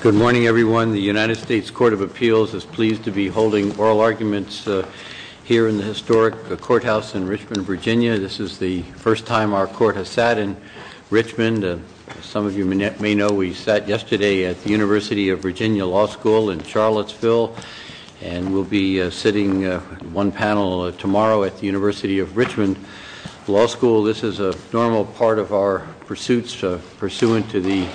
Good morning, everyone. The United States Court of Appeals is pleased to be holding oral arguments here in the historic courthouse in Richmond, Virginia. This is the first time our court has sat in Richmond. Some of you may know we sat yesterday at the University of Virginia Law School in Charlottesville, and we'll be sitting one panel tomorrow at the University of Richmond Law School. This is a normal part of our pursuits pursuant to the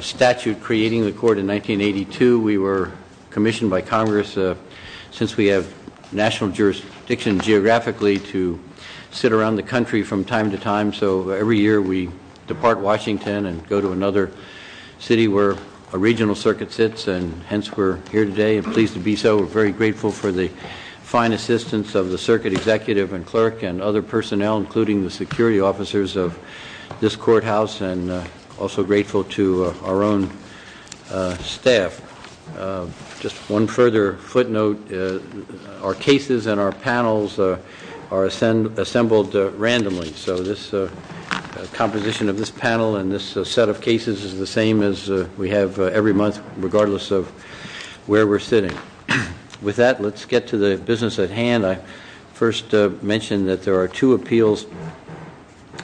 statute creating the court in 1982. We were commissioned by Congress, since we have national jurisdiction geographically, to sit around the country from time to time. So every year we depart Washington and go to another city where a regional circuit sits, and hence we're here today and pleased to be so. We're very grateful for the fine assistance of the circuit executive and clerk and other personnel, including the security officers of this courthouse, and also grateful to our own staff. Just one further footnote, our cases and our panels are assembled randomly, so the composition of this panel and this set of cases is the same as we have every month, regardless of where we're sitting. With that, let's get to the business at hand. I first mention that there are two appeals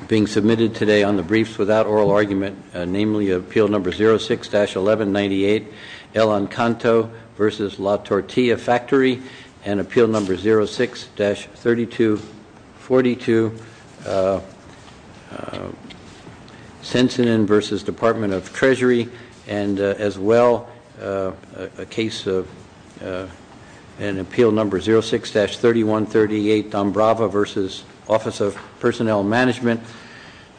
being submitted today on the briefs without oral argument, namely Appeal Number 06-1198, El Ancanto v. La Tortilla Factory, and Appeal Number 06-3242, Sensenin v. Department of Treasury, and as well a case of an Appeal Number 06-3138, Dombrava v. Office of Personnel Management,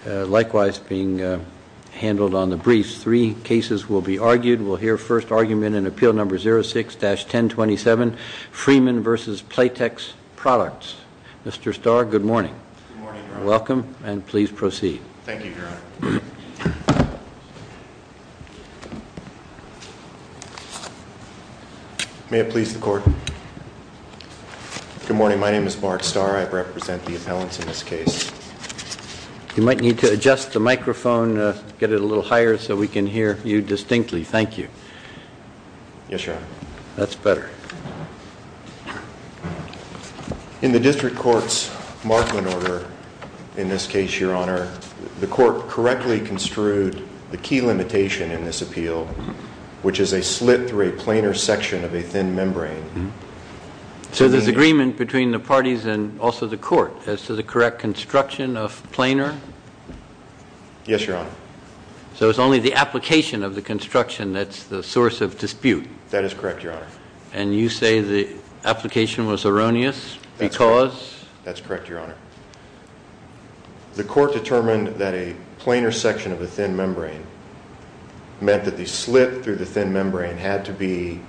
likewise being handled on the briefs. Three cases will be argued. We'll hear first argument in Appeal Number 06-1027, Freeman v. Playtex Products. Mr. Starr, good morning. Good morning, Your Honor. Welcome, and please proceed. Thank you, Your Honor. May it please the Court. Good morning. My name is Mark Starr. I represent the appellants in this case. You might need to adjust the microphone, get it a little higher so we can hear you distinctly. Thank you. Yes, Your Honor. That's better. In the District Court's Markman order, in this case, Your Honor, the Court correctly construed the key limitation in this appeal, which is a slit through a planar section of a thin membrane. So there's agreement between the parties and also the Court as to the correct construction of planar? Yes, Your Honor. So it's only the application of the construction that's the source of dispute? That is correct, Your Honor. And you say the application was erroneous because? That's correct, Your Honor. The Court determined that a planar section of a thin membrane meant that the slit through the thin membrane had to be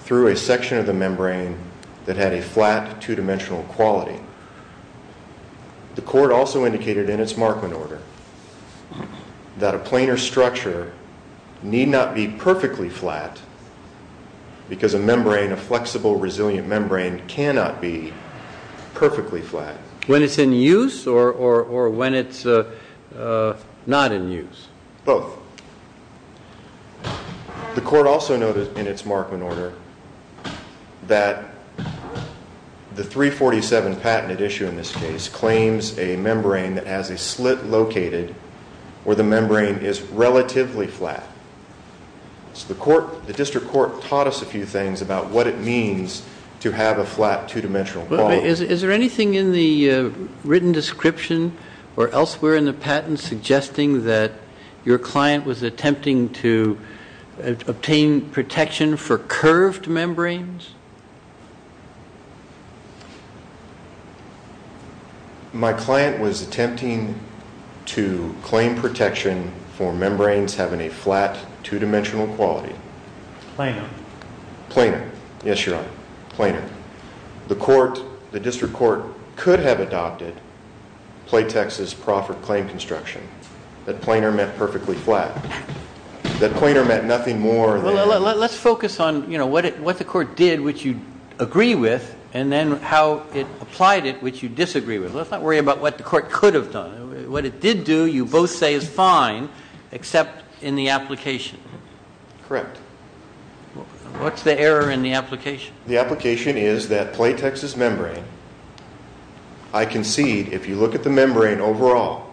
through a section of the membrane that had a flat, two-dimensional quality. The Court also indicated in its Markman order that a planar structure need not be perfectly flat because a membrane, a flexible, resilient membrane cannot be perfectly flat. When it's in use or when it's not in use? Both. The Court also noted in its Markman order that the 347 patented issue in this case claims a membrane that has a slit located where the membrane is relatively flat. So the District Court taught us a few things about what it means to have a flat, two-dimensional quality. Is there anything in the written description or elsewhere in the patent suggesting that your client was attempting to obtain protection for curved membranes? My client was attempting to claim protection for membranes having a flat, two-dimensional quality. Planar. Planar. Yes, Your Honor. Planar. The District Court could have adopted Platex's proffered claim construction. That planar meant perfectly flat. That planar meant nothing more than... Let's focus on what the Court did. What the Court did, which you agree with, and then how it applied it, which you disagree with. Let's not worry about what the Court could have done. What it did do, you both say is fine, except in the application. Correct. What's the error in the application? The application is that Platex's membrane, I concede, if you look at the membrane overall,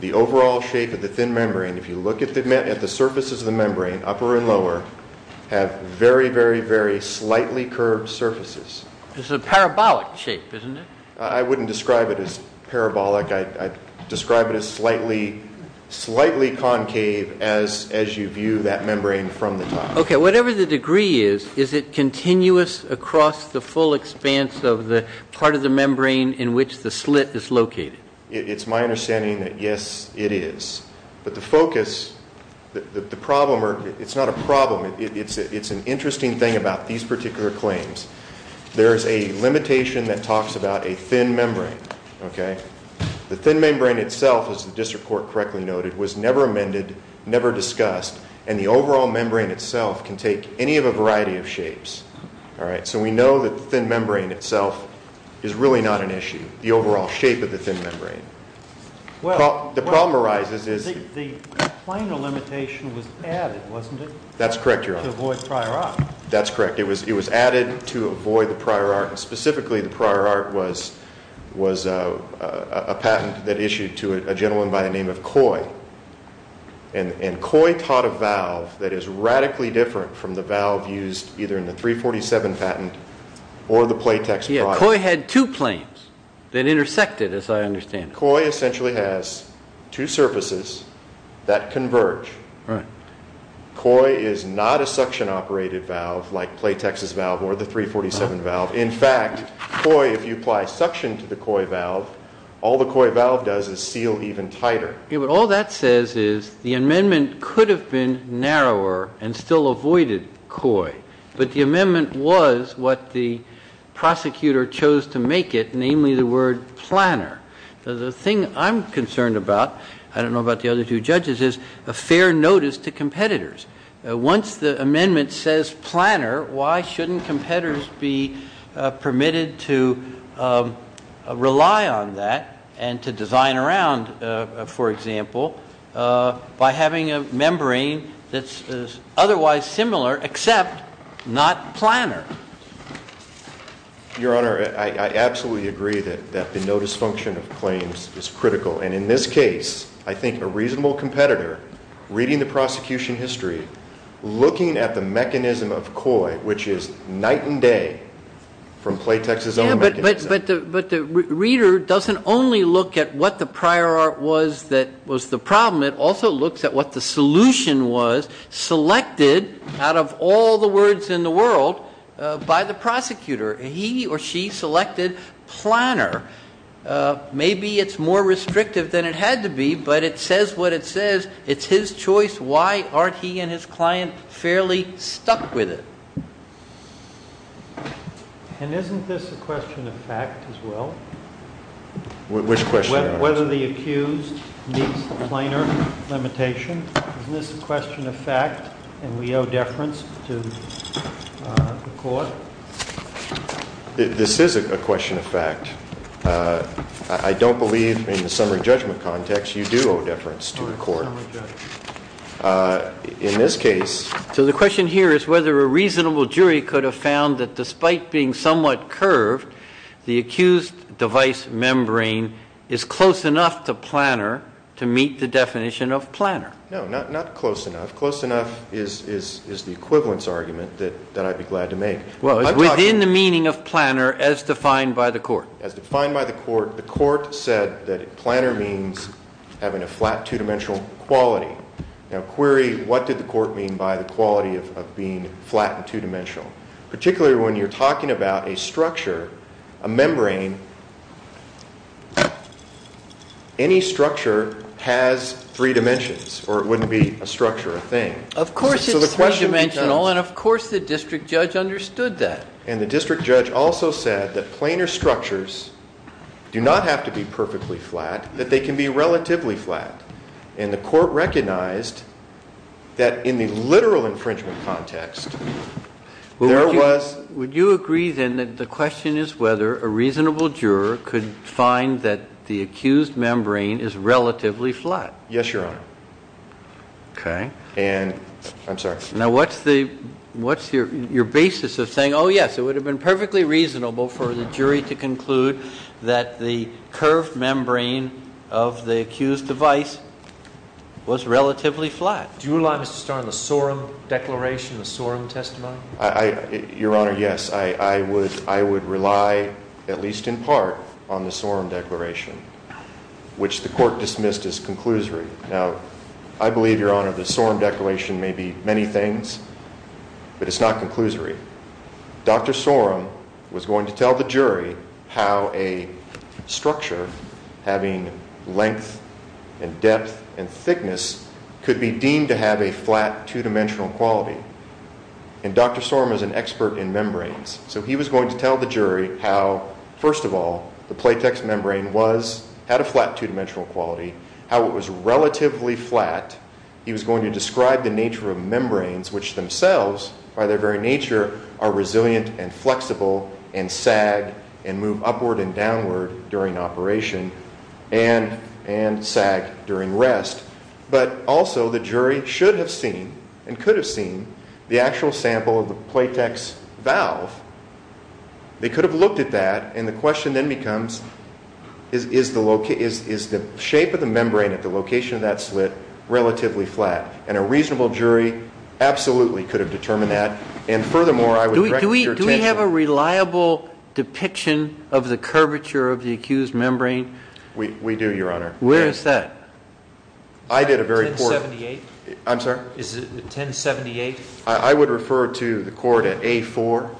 the overall shape of the thin membrane, if you look at the surfaces of the membrane, upper and lower, have very, very, very slightly curved surfaces. It's a parabolic shape, isn't it? I wouldn't describe it as parabolic. I'd describe it as slightly concave as you view that membrane from the top. Okay, whatever the degree is, is it continuous across the full expanse of the part of the membrane in which the slit is located? It's my understanding that, yes, it is. But the focus, the problem, it's not a problem. It's an interesting thing about these particular claims. There is a limitation that talks about a thin membrane. The thin membrane itself, as the District Court correctly noted, was never amended, never discussed, and the overall membrane itself can take any of a variety of shapes. So we know that the thin membrane itself is really not an issue, the overall shape of the thin membrane. Well, the problem arises is the planar limitation was added, wasn't it? That's correct, Your Honor. To avoid prior art. That's correct. It was added to avoid the prior art, and specifically the prior art was a patent that issued to a gentleman by the name of Coy. And Coy taught a valve that is radically different from the valve used either in the 347 patent or the Playtex project. Coy had two planes that intersected, as I understand it. Coy essentially has two surfaces that converge. Right. Coy is not a suction-operated valve like Playtex's valve or the 347 valve. In fact, Coy, if you apply suction to the Coy valve, all the Coy valve does is seal even tighter. All that says is the amendment could have been narrower and still avoided Coy, but the amendment was what the prosecutor chose to make it, namely the word planar. The thing I'm concerned about, I don't know about the other two judges, is a fair notice to competitors. Once the amendment says planar, why shouldn't competitors be permitted to rely on that and to design around, for example, by having a membrane that's otherwise similar except not planar? Your Honor, I absolutely agree that the notice function of claims is critical. And in this case, I think a reasonable competitor, reading the prosecution history, looking at the mechanism of Coy, which is night and day from Playtex's own mechanism. But the reader doesn't only look at what the prior art was that was the problem. It also looks at what the solution was selected out of all the words in the world by the prosecutor. He or she selected planar. Maybe it's more restrictive than it had to be, but it says what it says. It's his choice. Why aren't he and his client fairly stuck with it? And isn't this a question of fact as well? Which question? Whether the accused meets the planar limitation. Isn't this a question of fact and we owe deference to the court? This is a question of fact. I don't believe in the summary judgment context you do owe deference to the court. In this case. So the question here is whether a reasonable jury could have found that despite being somewhat curved, the accused device membrane is close enough to planar to meet the definition of planar. No, not close enough. Close enough is the equivalence argument that I'd be glad to make. Within the meaning of planar as defined by the court. As defined by the court, the court said that planar means having a flat two-dimensional quality. Now, query, what did the court mean by the quality of being flat and two-dimensional? Particularly when you're talking about a structure, a membrane. Any structure has three dimensions or it wouldn't be a structure, a thing. Of course it's three-dimensional and of course the district judge understood that. And the district judge also said that planar structures do not have to be perfectly flat, that they can be relatively flat. And the court recognized that in the literal infringement context, there was. Would you agree then that the question is whether a reasonable juror could find that the accused membrane is relatively flat? Yes, Your Honor. Okay. And, I'm sorry. Now, what's your basis of saying, oh, yes, it would have been perfectly reasonable for the jury to conclude that the curved membrane of the accused device was relatively flat? Do you rely, Mr. Starr, on the Sorum Declaration, the Sorum Testimony? Your Honor, yes. I would rely, at least in part, on the Sorum Declaration, which the court dismissed as conclusory. Now, I believe, Your Honor, the Sorum Declaration may be many things, but it's not conclusory. Dr. Sorum was going to tell the jury how a structure having length and depth and thickness could be deemed to have a flat two-dimensional quality. And Dr. Sorum is an expert in membranes. So he was going to tell the jury how, first of all, the platex membrane had a flat two-dimensional quality, how it was relatively flat. He was going to describe the nature of membranes, which themselves, by their very nature, are resilient and flexible and sag and move upward and downward during operation and sag during rest. But also, the jury should have seen and could have seen the actual sample of the platex valve. They could have looked at that, and the question then becomes, is the shape of the membrane at the location of that slit relatively flat? And a reasonable jury absolutely could have determined that. And furthermore, I would direct your attention— Do we have a reliable depiction of the curvature of the accused membrane? We do, Your Honor. Where is that? I did a very— 1078? I'm sorry? Is it 1078? I would refer to the court at A4.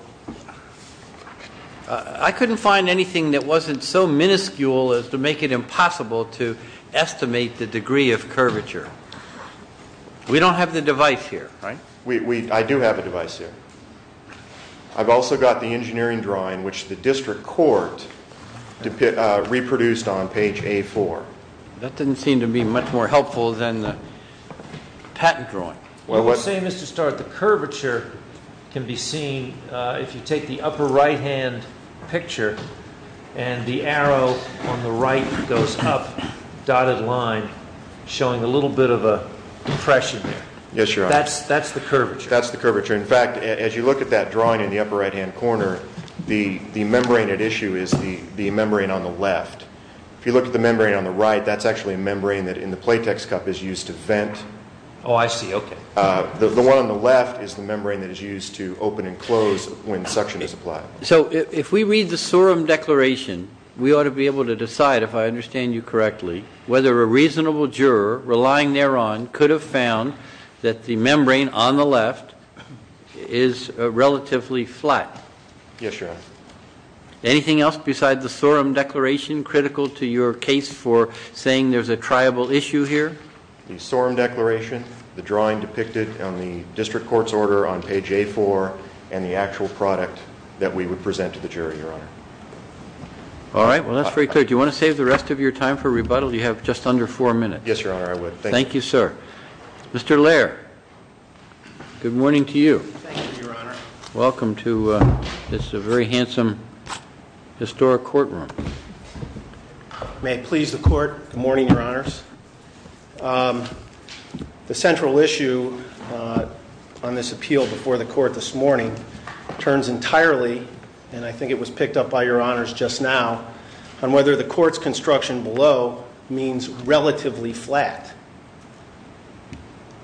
I couldn't find anything that wasn't so minuscule as to make it impossible to estimate the degree of curvature. We don't have the device here, right? I do have a device here. I've also got the engineering drawing, which the district court reproduced on page A4. That didn't seem to be much more helpful than the patent drawing. Well, the same is to start. The curvature can be seen if you take the upper right-hand picture, and the arrow on the right goes up, dotted line, showing a little bit of a depression there. Yes, Your Honor. That's the curvature. That's the curvature. In fact, as you look at that drawing in the upper right-hand corner, the membrane at issue is the membrane on the left. If you look at the membrane on the right, that's actually a membrane that in the platex cup is used to vent. Oh, I see. Okay. The one on the left is the membrane that is used to open and close when suction is applied. So if we read the SORM declaration, we ought to be able to decide, if I understand you correctly, whether a reasonable juror relying thereon could have found that the membrane on the left is relatively flat. Yes, Your Honor. Anything else besides the SORM declaration critical to your case for saying there's a triable issue here? The SORM declaration, the drawing depicted on the district court's order on page A4, and the actual product that we would present to the jury, Your Honor. All right. Well, that's very clear. Do you want to save the rest of your time for rebuttal? You have just under four minutes. Yes, Your Honor, I would. Thank you, sir. Mr. Lehr, good morning to you. Thank you, Your Honor. Welcome to this very handsome historic courtroom. May it please the court, good morning, Your Honors. The central issue on this appeal before the court this morning turns entirely, and I think it was picked up by Your Honors just now, on whether the court's construction below means relatively flat.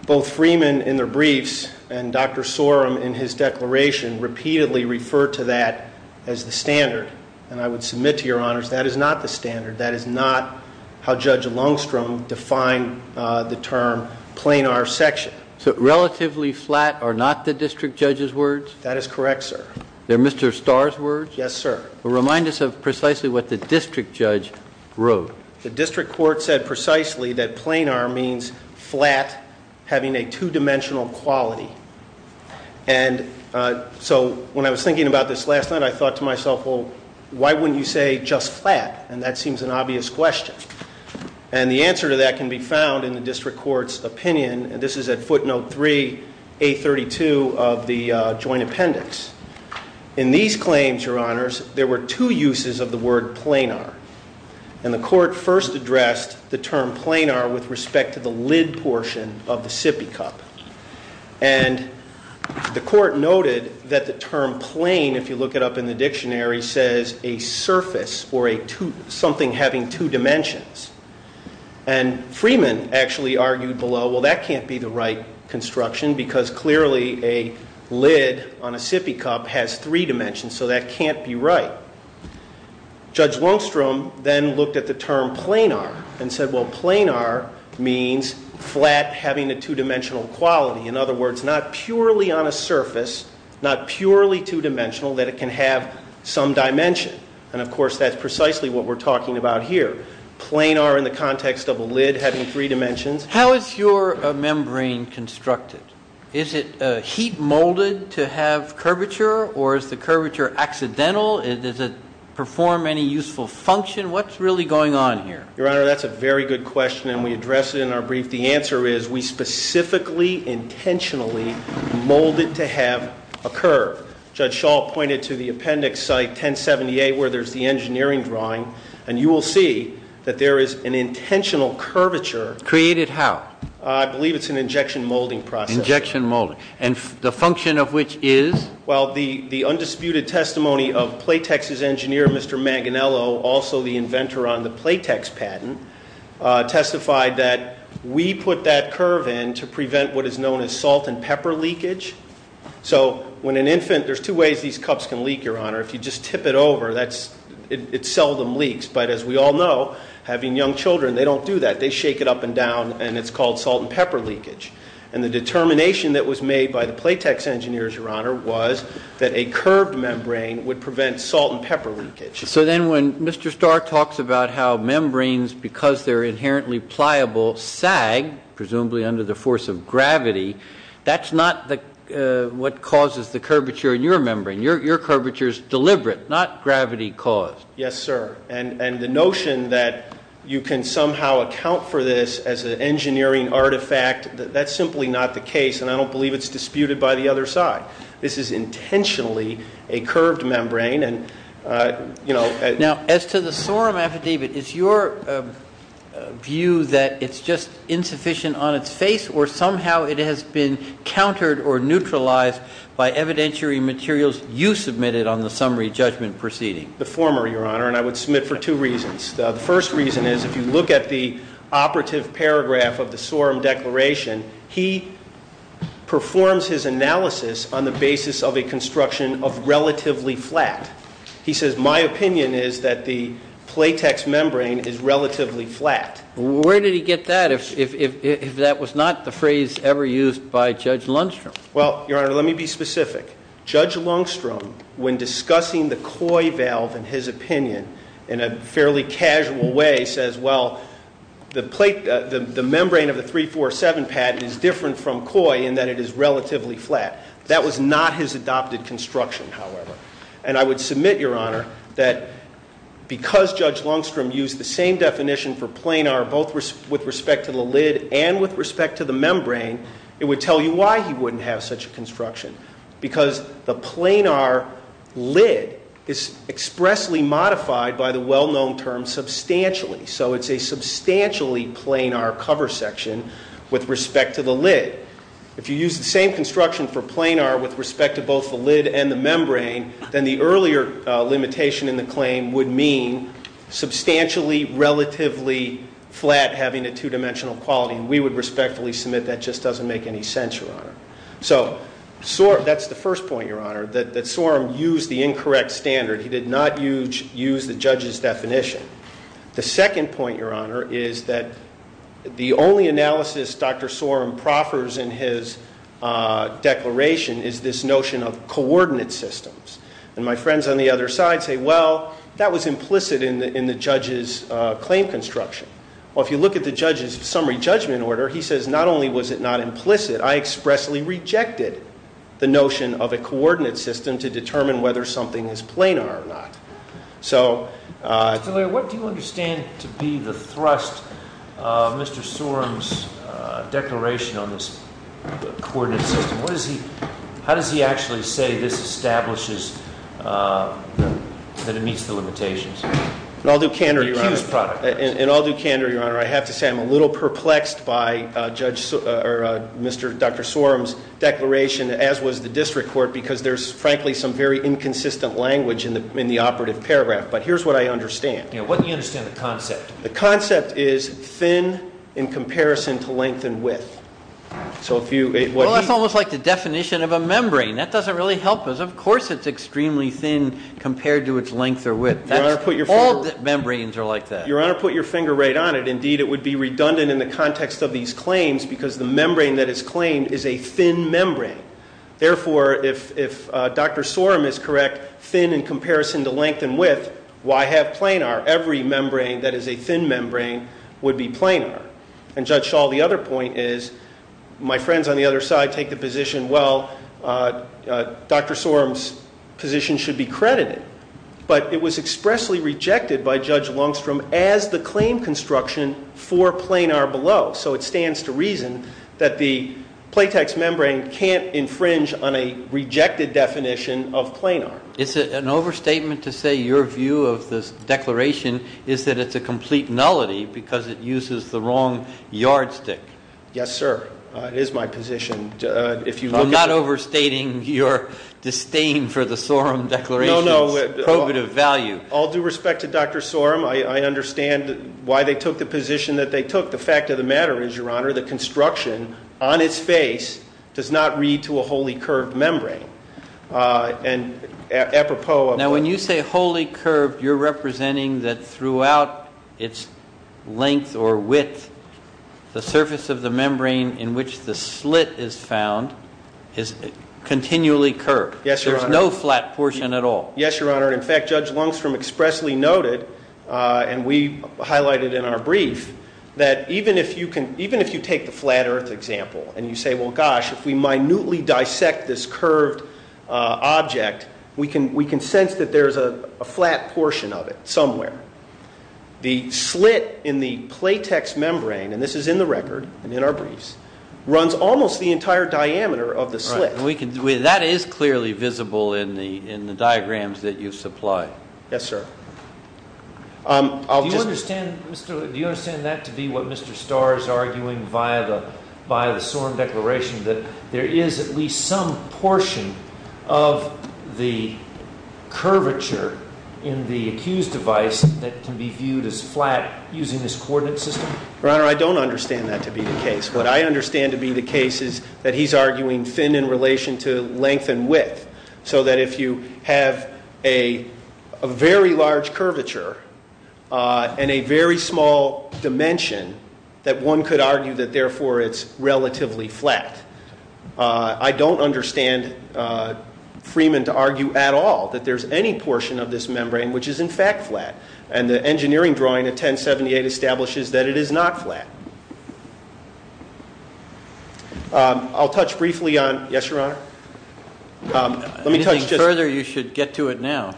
Both Freeman in their briefs and Dr. Sorum in his declaration repeatedly refer to that as the standard. And I would submit to Your Honors that is not the standard. That is not how Judge Lungstrom defined the term planar section. So relatively flat are not the district judge's words? That is correct, sir. They're Mr. Starr's words? Yes, sir. Well, remind us of precisely what the district judge wrote. The district court said precisely that planar means flat, having a two-dimensional quality. And so when I was thinking about this last night, I thought to myself, well, why wouldn't you say just flat? And that seems an obvious question. And the answer to that can be found in the district court's opinion. This is at footnote three, A32 of the joint appendix. In these claims, Your Honors, there were two uses of the word planar. And the court first addressed the term planar with respect to the lid portion of the sippy cup. And the court noted that the term plane, if you look it up in the dictionary, says a surface or something having two dimensions. And Freeman actually argued below, well, that can't be the right construction because clearly a lid on a sippy cup has three dimensions, so that can't be right. Judge Lungstrom then looked at the term planar and said, well, In other words, not purely on a surface, not purely two-dimensional, that it can have some dimension. And, of course, that's precisely what we're talking about here. Planar in the context of a lid having three dimensions. How is your membrane constructed? Is it heat-molded to have curvature, or is the curvature accidental? Does it perform any useful function? What's really going on here? Your Honor, that's a very good question, and we address it in our brief. The answer is we specifically, intentionally mold it to have a curve. Judge Schall pointed to the appendix site 1078 where there's the engineering drawing, and you will see that there is an intentional curvature. Created how? I believe it's an injection molding process. Injection molding. And the function of which is? Well, the undisputed testimony of Playtex's engineer, Mr. Manganiello, also the inventor on the Playtex patent, testified that we put that curve in to prevent what is known as salt and pepper leakage. So when an infant, there's two ways these cups can leak, Your Honor. If you just tip it over, it seldom leaks. But as we all know, having young children, they don't do that. They shake it up and down, and it's called salt and pepper leakage. And the determination that was made by the Playtex engineers, Your Honor, was that a curved membrane would prevent salt and pepper leakage. So then when Mr. Starr talks about how membranes, because they're inherently pliable, sag, presumably under the force of gravity, that's not what causes the curvature in your membrane. Your curvature is deliberate, not gravity caused. Yes, sir. And the notion that you can somehow account for this as an engineering artifact, that's simply not the case, and I don't believe it's disputed by the other side. This is intentionally a curved membrane, Now, as to the sorum affidavit, is your view that it's just insufficient on its face, or somehow it has been countered or neutralized by evidentiary materials you submitted on the summary judgment proceeding? The former, Your Honor, and I would submit for two reasons. The first reason is if you look at the operative paragraph of the sorum declaration, he performs his analysis on the basis of a construction of relatively flat. He says, my opinion is that the Playtex membrane is relatively flat. Where did he get that if that was not the phrase ever used by Judge Lundstrom? Well, Your Honor, let me be specific. Judge Lundstrom, when discussing the Koi valve in his opinion in a fairly casual way, says, well, the membrane of the 347 patent is different from Koi in that it is relatively flat. That was not his adopted construction, however. And I would submit, Your Honor, that because Judge Lundstrom used the same definition for planar, both with respect to the lid and with respect to the membrane, it would tell you why he wouldn't have such a construction. Because the planar lid is expressly modified by the well-known term substantially. So it's a substantially planar cover section with respect to the lid. If you use the same construction for planar with respect to both the lid and the membrane, then the earlier limitation in the claim would mean substantially relatively flat having a two-dimensional quality. And we would respectfully submit that just doesn't make any sense, Your Honor. So that's the first point, Your Honor, that Sorum used the incorrect standard. He did not use the judge's definition. The second point, Your Honor, is that the only analysis Dr. Sorum proffers in his declaration is this notion of coordinate systems. And my friends on the other side say, well, that was implicit in the judge's claim construction. Well, if you look at the judge's summary judgment order, he says not only was it not implicit, I expressly rejected the notion of a coordinate system to determine whether something is planar or not. So- Mr. Talia, what do you understand to be the thrust of Mr. Sorum's declaration on this coordinate system? How does he actually say this establishes that it meets the limitations? I'll do candor, Your Honor. Accused product. And I'll do candor, Your Honor. I have to say I'm a little perplexed by Dr. Sorum's declaration, as was the district court, because there's frankly some very inconsistent language in the operative paragraph. But here's what I understand. What do you understand of the concept? The concept is thin in comparison to length and width. Well, that's almost like the definition of a membrane. That doesn't really help us. Of course it's extremely thin compared to its length or width. All membranes are like that. Your Honor, put your finger right on it. Indeed, it would be redundant in the context of these claims because the membrane that is claimed is a thin membrane. Therefore, if Dr. Sorum is correct, thin in comparison to length and width, why have planar? Every membrane that is a thin membrane would be planar. And, Judge Shaw, the other point is my friends on the other side take the position, well, Dr. Sorum's position should be credited. But it was expressly rejected by Judge Longstrom as the claim construction for planar below. So it stands to reason that the platex membrane can't infringe on a rejected definition of planar. Is it an overstatement to say your view of this declaration is that it's a complete nullity because it uses the wrong yardstick? Yes, sir. It is my position. I'm not overstating your disdain for the Sorum declaration. No, no. Probative value. All due respect to Dr. Sorum, I understand why they took the position that they took. The fact of the matter is, Your Honor, the construction on its face does not read to a wholly curved membrane. And apropos of that. Now, when you say wholly curved, you're representing that throughout its length or width, the surface of the membrane in which the slit is found is continually curved. Yes, Your Honor. There's no flat portion at all. Yes, Your Honor. In fact, Judge Longstrom expressly noted, and we highlighted in our brief, that even if you take the flat earth example and you say, well, gosh, if we minutely dissect this curved object, we can sense that there's a flat portion of it somewhere. The slit in the platex membrane, and this is in the record and in our briefs, runs almost the entire diameter of the slit. That is clearly visible in the diagrams that you've supplied. Yes, sir. Do you understand that to be what Mr. Starr is arguing via the Sorum declaration, that there is at least some portion of the curvature in the accused device that can be viewed as flat using this coordinate system? Your Honor, I don't understand that to be the case. What I understand to be the case is that he's arguing thin in relation to length and width, so that if you have a very large curvature and a very small dimension, that one could argue that, therefore, it's relatively flat. I don't understand Freeman to argue at all that there's any portion of this membrane which is, in fact, flat. And the engineering drawing of 1078 establishes that it is not flat. I'll touch briefly on – yes, Your Honor? Anything further, you should get to it now.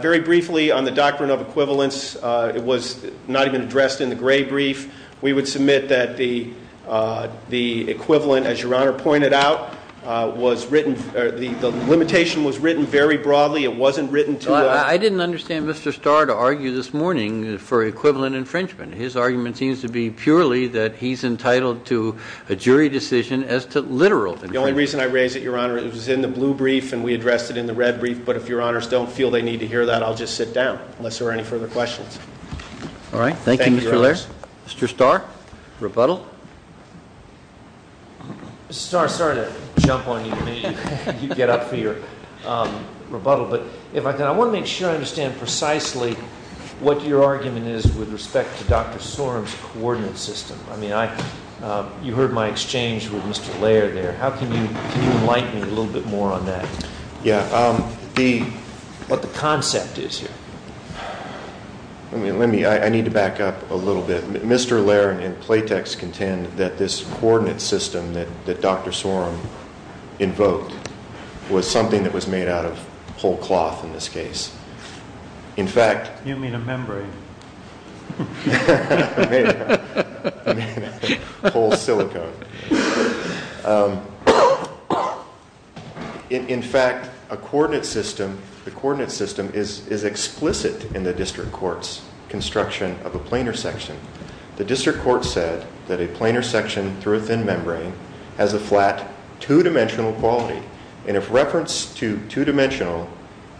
Very briefly on the doctrine of equivalence, it was not even addressed in the Gray brief. We would submit that the equivalent, as Your Honor pointed out, was written – the limitation was written very broadly. It wasn't written to – I didn't understand Mr. Starr to argue this morning for equivalent infringement. His argument seems to be purely that he's entitled to a jury decision as to literal infringement. The only reason I raise it, Your Honor, it was in the Blue brief and we addressed it in the Red brief, but if Your Honors don't feel they need to hear that, I'll just sit down unless there are any further questions. All right, thank you, Mr. Laird. Mr. Starr, rebuttal. Mr. Starr, sorry to jump on you. You get up for your rebuttal. But if I can, I want to make sure I understand precisely what your argument is with respect to Dr. Sorum's coordinate system. I mean, you heard my exchange with Mr. Laird there. How can you enlighten me a little bit more on that, what the concept is here? Let me – I need to back up a little bit. Mr. Laird and Platex contend that this coordinate system that Dr. Sorum invoked was something that was made out of whole cloth in this case. In fact- You mean a membrane. Whole silicone. In fact, a coordinate system, the coordinate system is explicit in the district court's construction of a planar section. The district court said that a planar section through a thin membrane has a flat, two-dimensional quality. And if reference to two-dimensional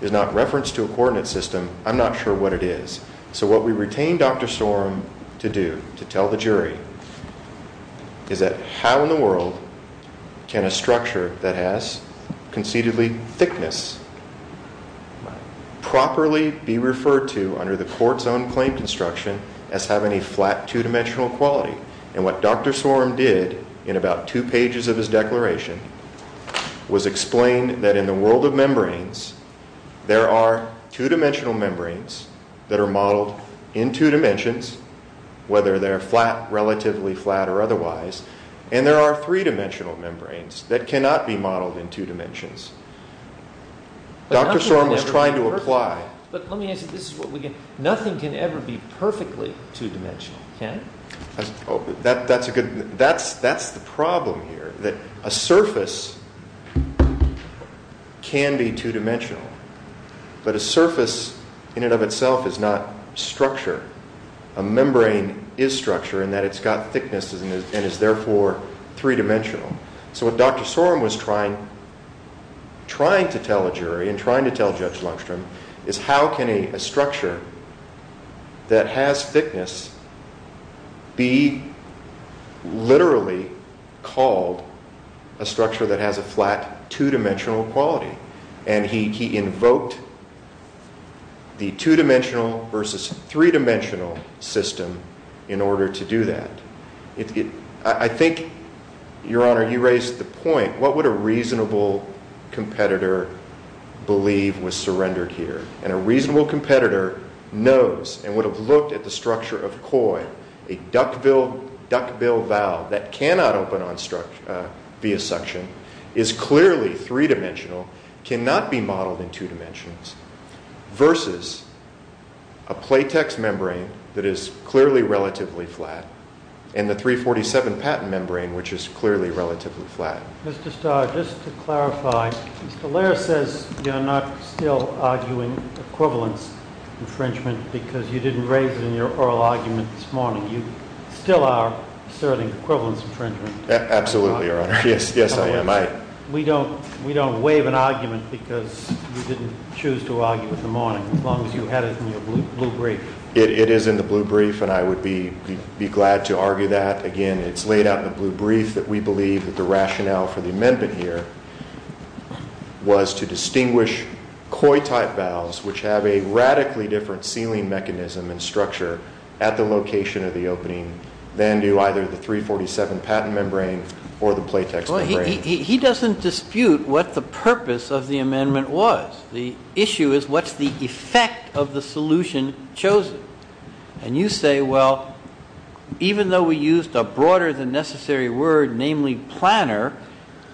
is not reference to a coordinate system, I'm not sure what it is. So what we retain Dr. Sorum to do, to tell the jury, is that how in the world can a structure that has concededly thickness properly be referred to under the court's own claim construction as having a flat, two-dimensional quality? And what Dr. Sorum did in about two pages of his declaration was explain that in the world of membranes, there are two-dimensional membranes that are modeled in two dimensions, whether they're flat, relatively flat, or otherwise. And there are three-dimensional membranes that cannot be modeled in two dimensions. Dr. Sorum was trying to apply- Nothing can ever be perfectly two-dimensional, can it? That's a good- That's the problem here, that a surface can be two-dimensional, but a surface in and of itself is not structure. A membrane is structure in that it's got thickness and is therefore three-dimensional. So what Dr. Sorum was trying to tell a jury and trying to tell Judge Lundstrom is how can a structure that has thickness be literally called a structure that has a flat, two-dimensional quality? And he invoked the two-dimensional versus three-dimensional system in order to do that. I think, Your Honor, you raised the point, what would a reasonable competitor believe was surrendered here? And a reasonable competitor knows and would have looked at the structure of COIL, a duckbill valve that cannot open via suction, is clearly three-dimensional, cannot be modeled in two dimensions, versus a platex membrane that is clearly relatively flat, and the 347 patent membrane, which is clearly relatively flat. Mr. Starr, just to clarify, Mr. Laird says you're not still arguing equivalence infringement because you didn't raise it in your oral argument this morning. You still are asserting equivalence infringement. Absolutely, Your Honor. Yes, I am. We don't waive an argument because you didn't choose to argue it this morning, as long as you had it in your blue brief. It is in the blue brief, and I would be glad to argue that. Again, it's laid out in the blue brief that we believe that the rationale for the amendment here was to distinguish COIL-type valves, which have a radically different sealing mechanism and structure at the location of the opening, than do either the 347 patent membrane or the platex membrane. Well, he doesn't dispute what the purpose of the amendment was. The issue is what's the effect of the solution chosen. And you say, well, even though we used a broader than necessary word, namely planner,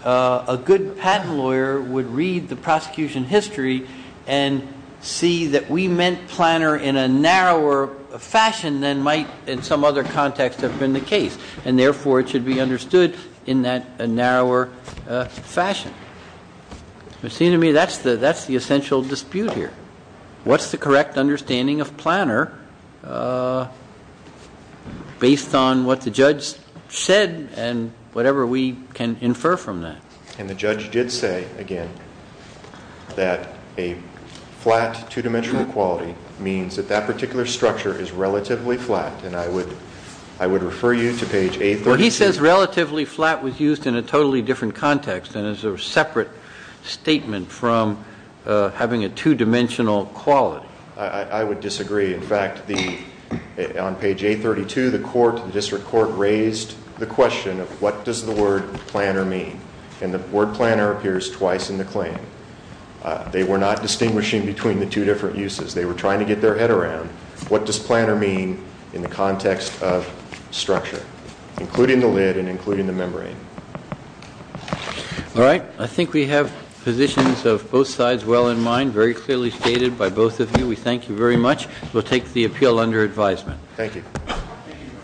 a good patent lawyer would read the prosecution history and see that we meant planner in a narrower fashion than might in some other context have been the case, and therefore it should be understood in that narrower fashion. It seems to me that's the essential dispute here. What's the correct understanding of planner based on what the judge said and whatever we can infer from that? And the judge did say, again, that a flat two-dimensional quality means that that particular structure is relatively flat, and I would refer you to page 832. Well, he says relatively flat was used in a totally different context and is a separate statement from having a two-dimensional quality. I would disagree. In fact, on page 832, the court, the district court, raised the question of what does the word planner mean. And the word planner appears twice in the claim. They were not distinguishing between the two different uses. They were trying to get their head around what does planner mean in the context of structure. Including the lid and including the membrane. All right. I think we have positions of both sides well in mind, very clearly stated by both of you. We thank you very much. We'll take the appeal under advisement. Thank you.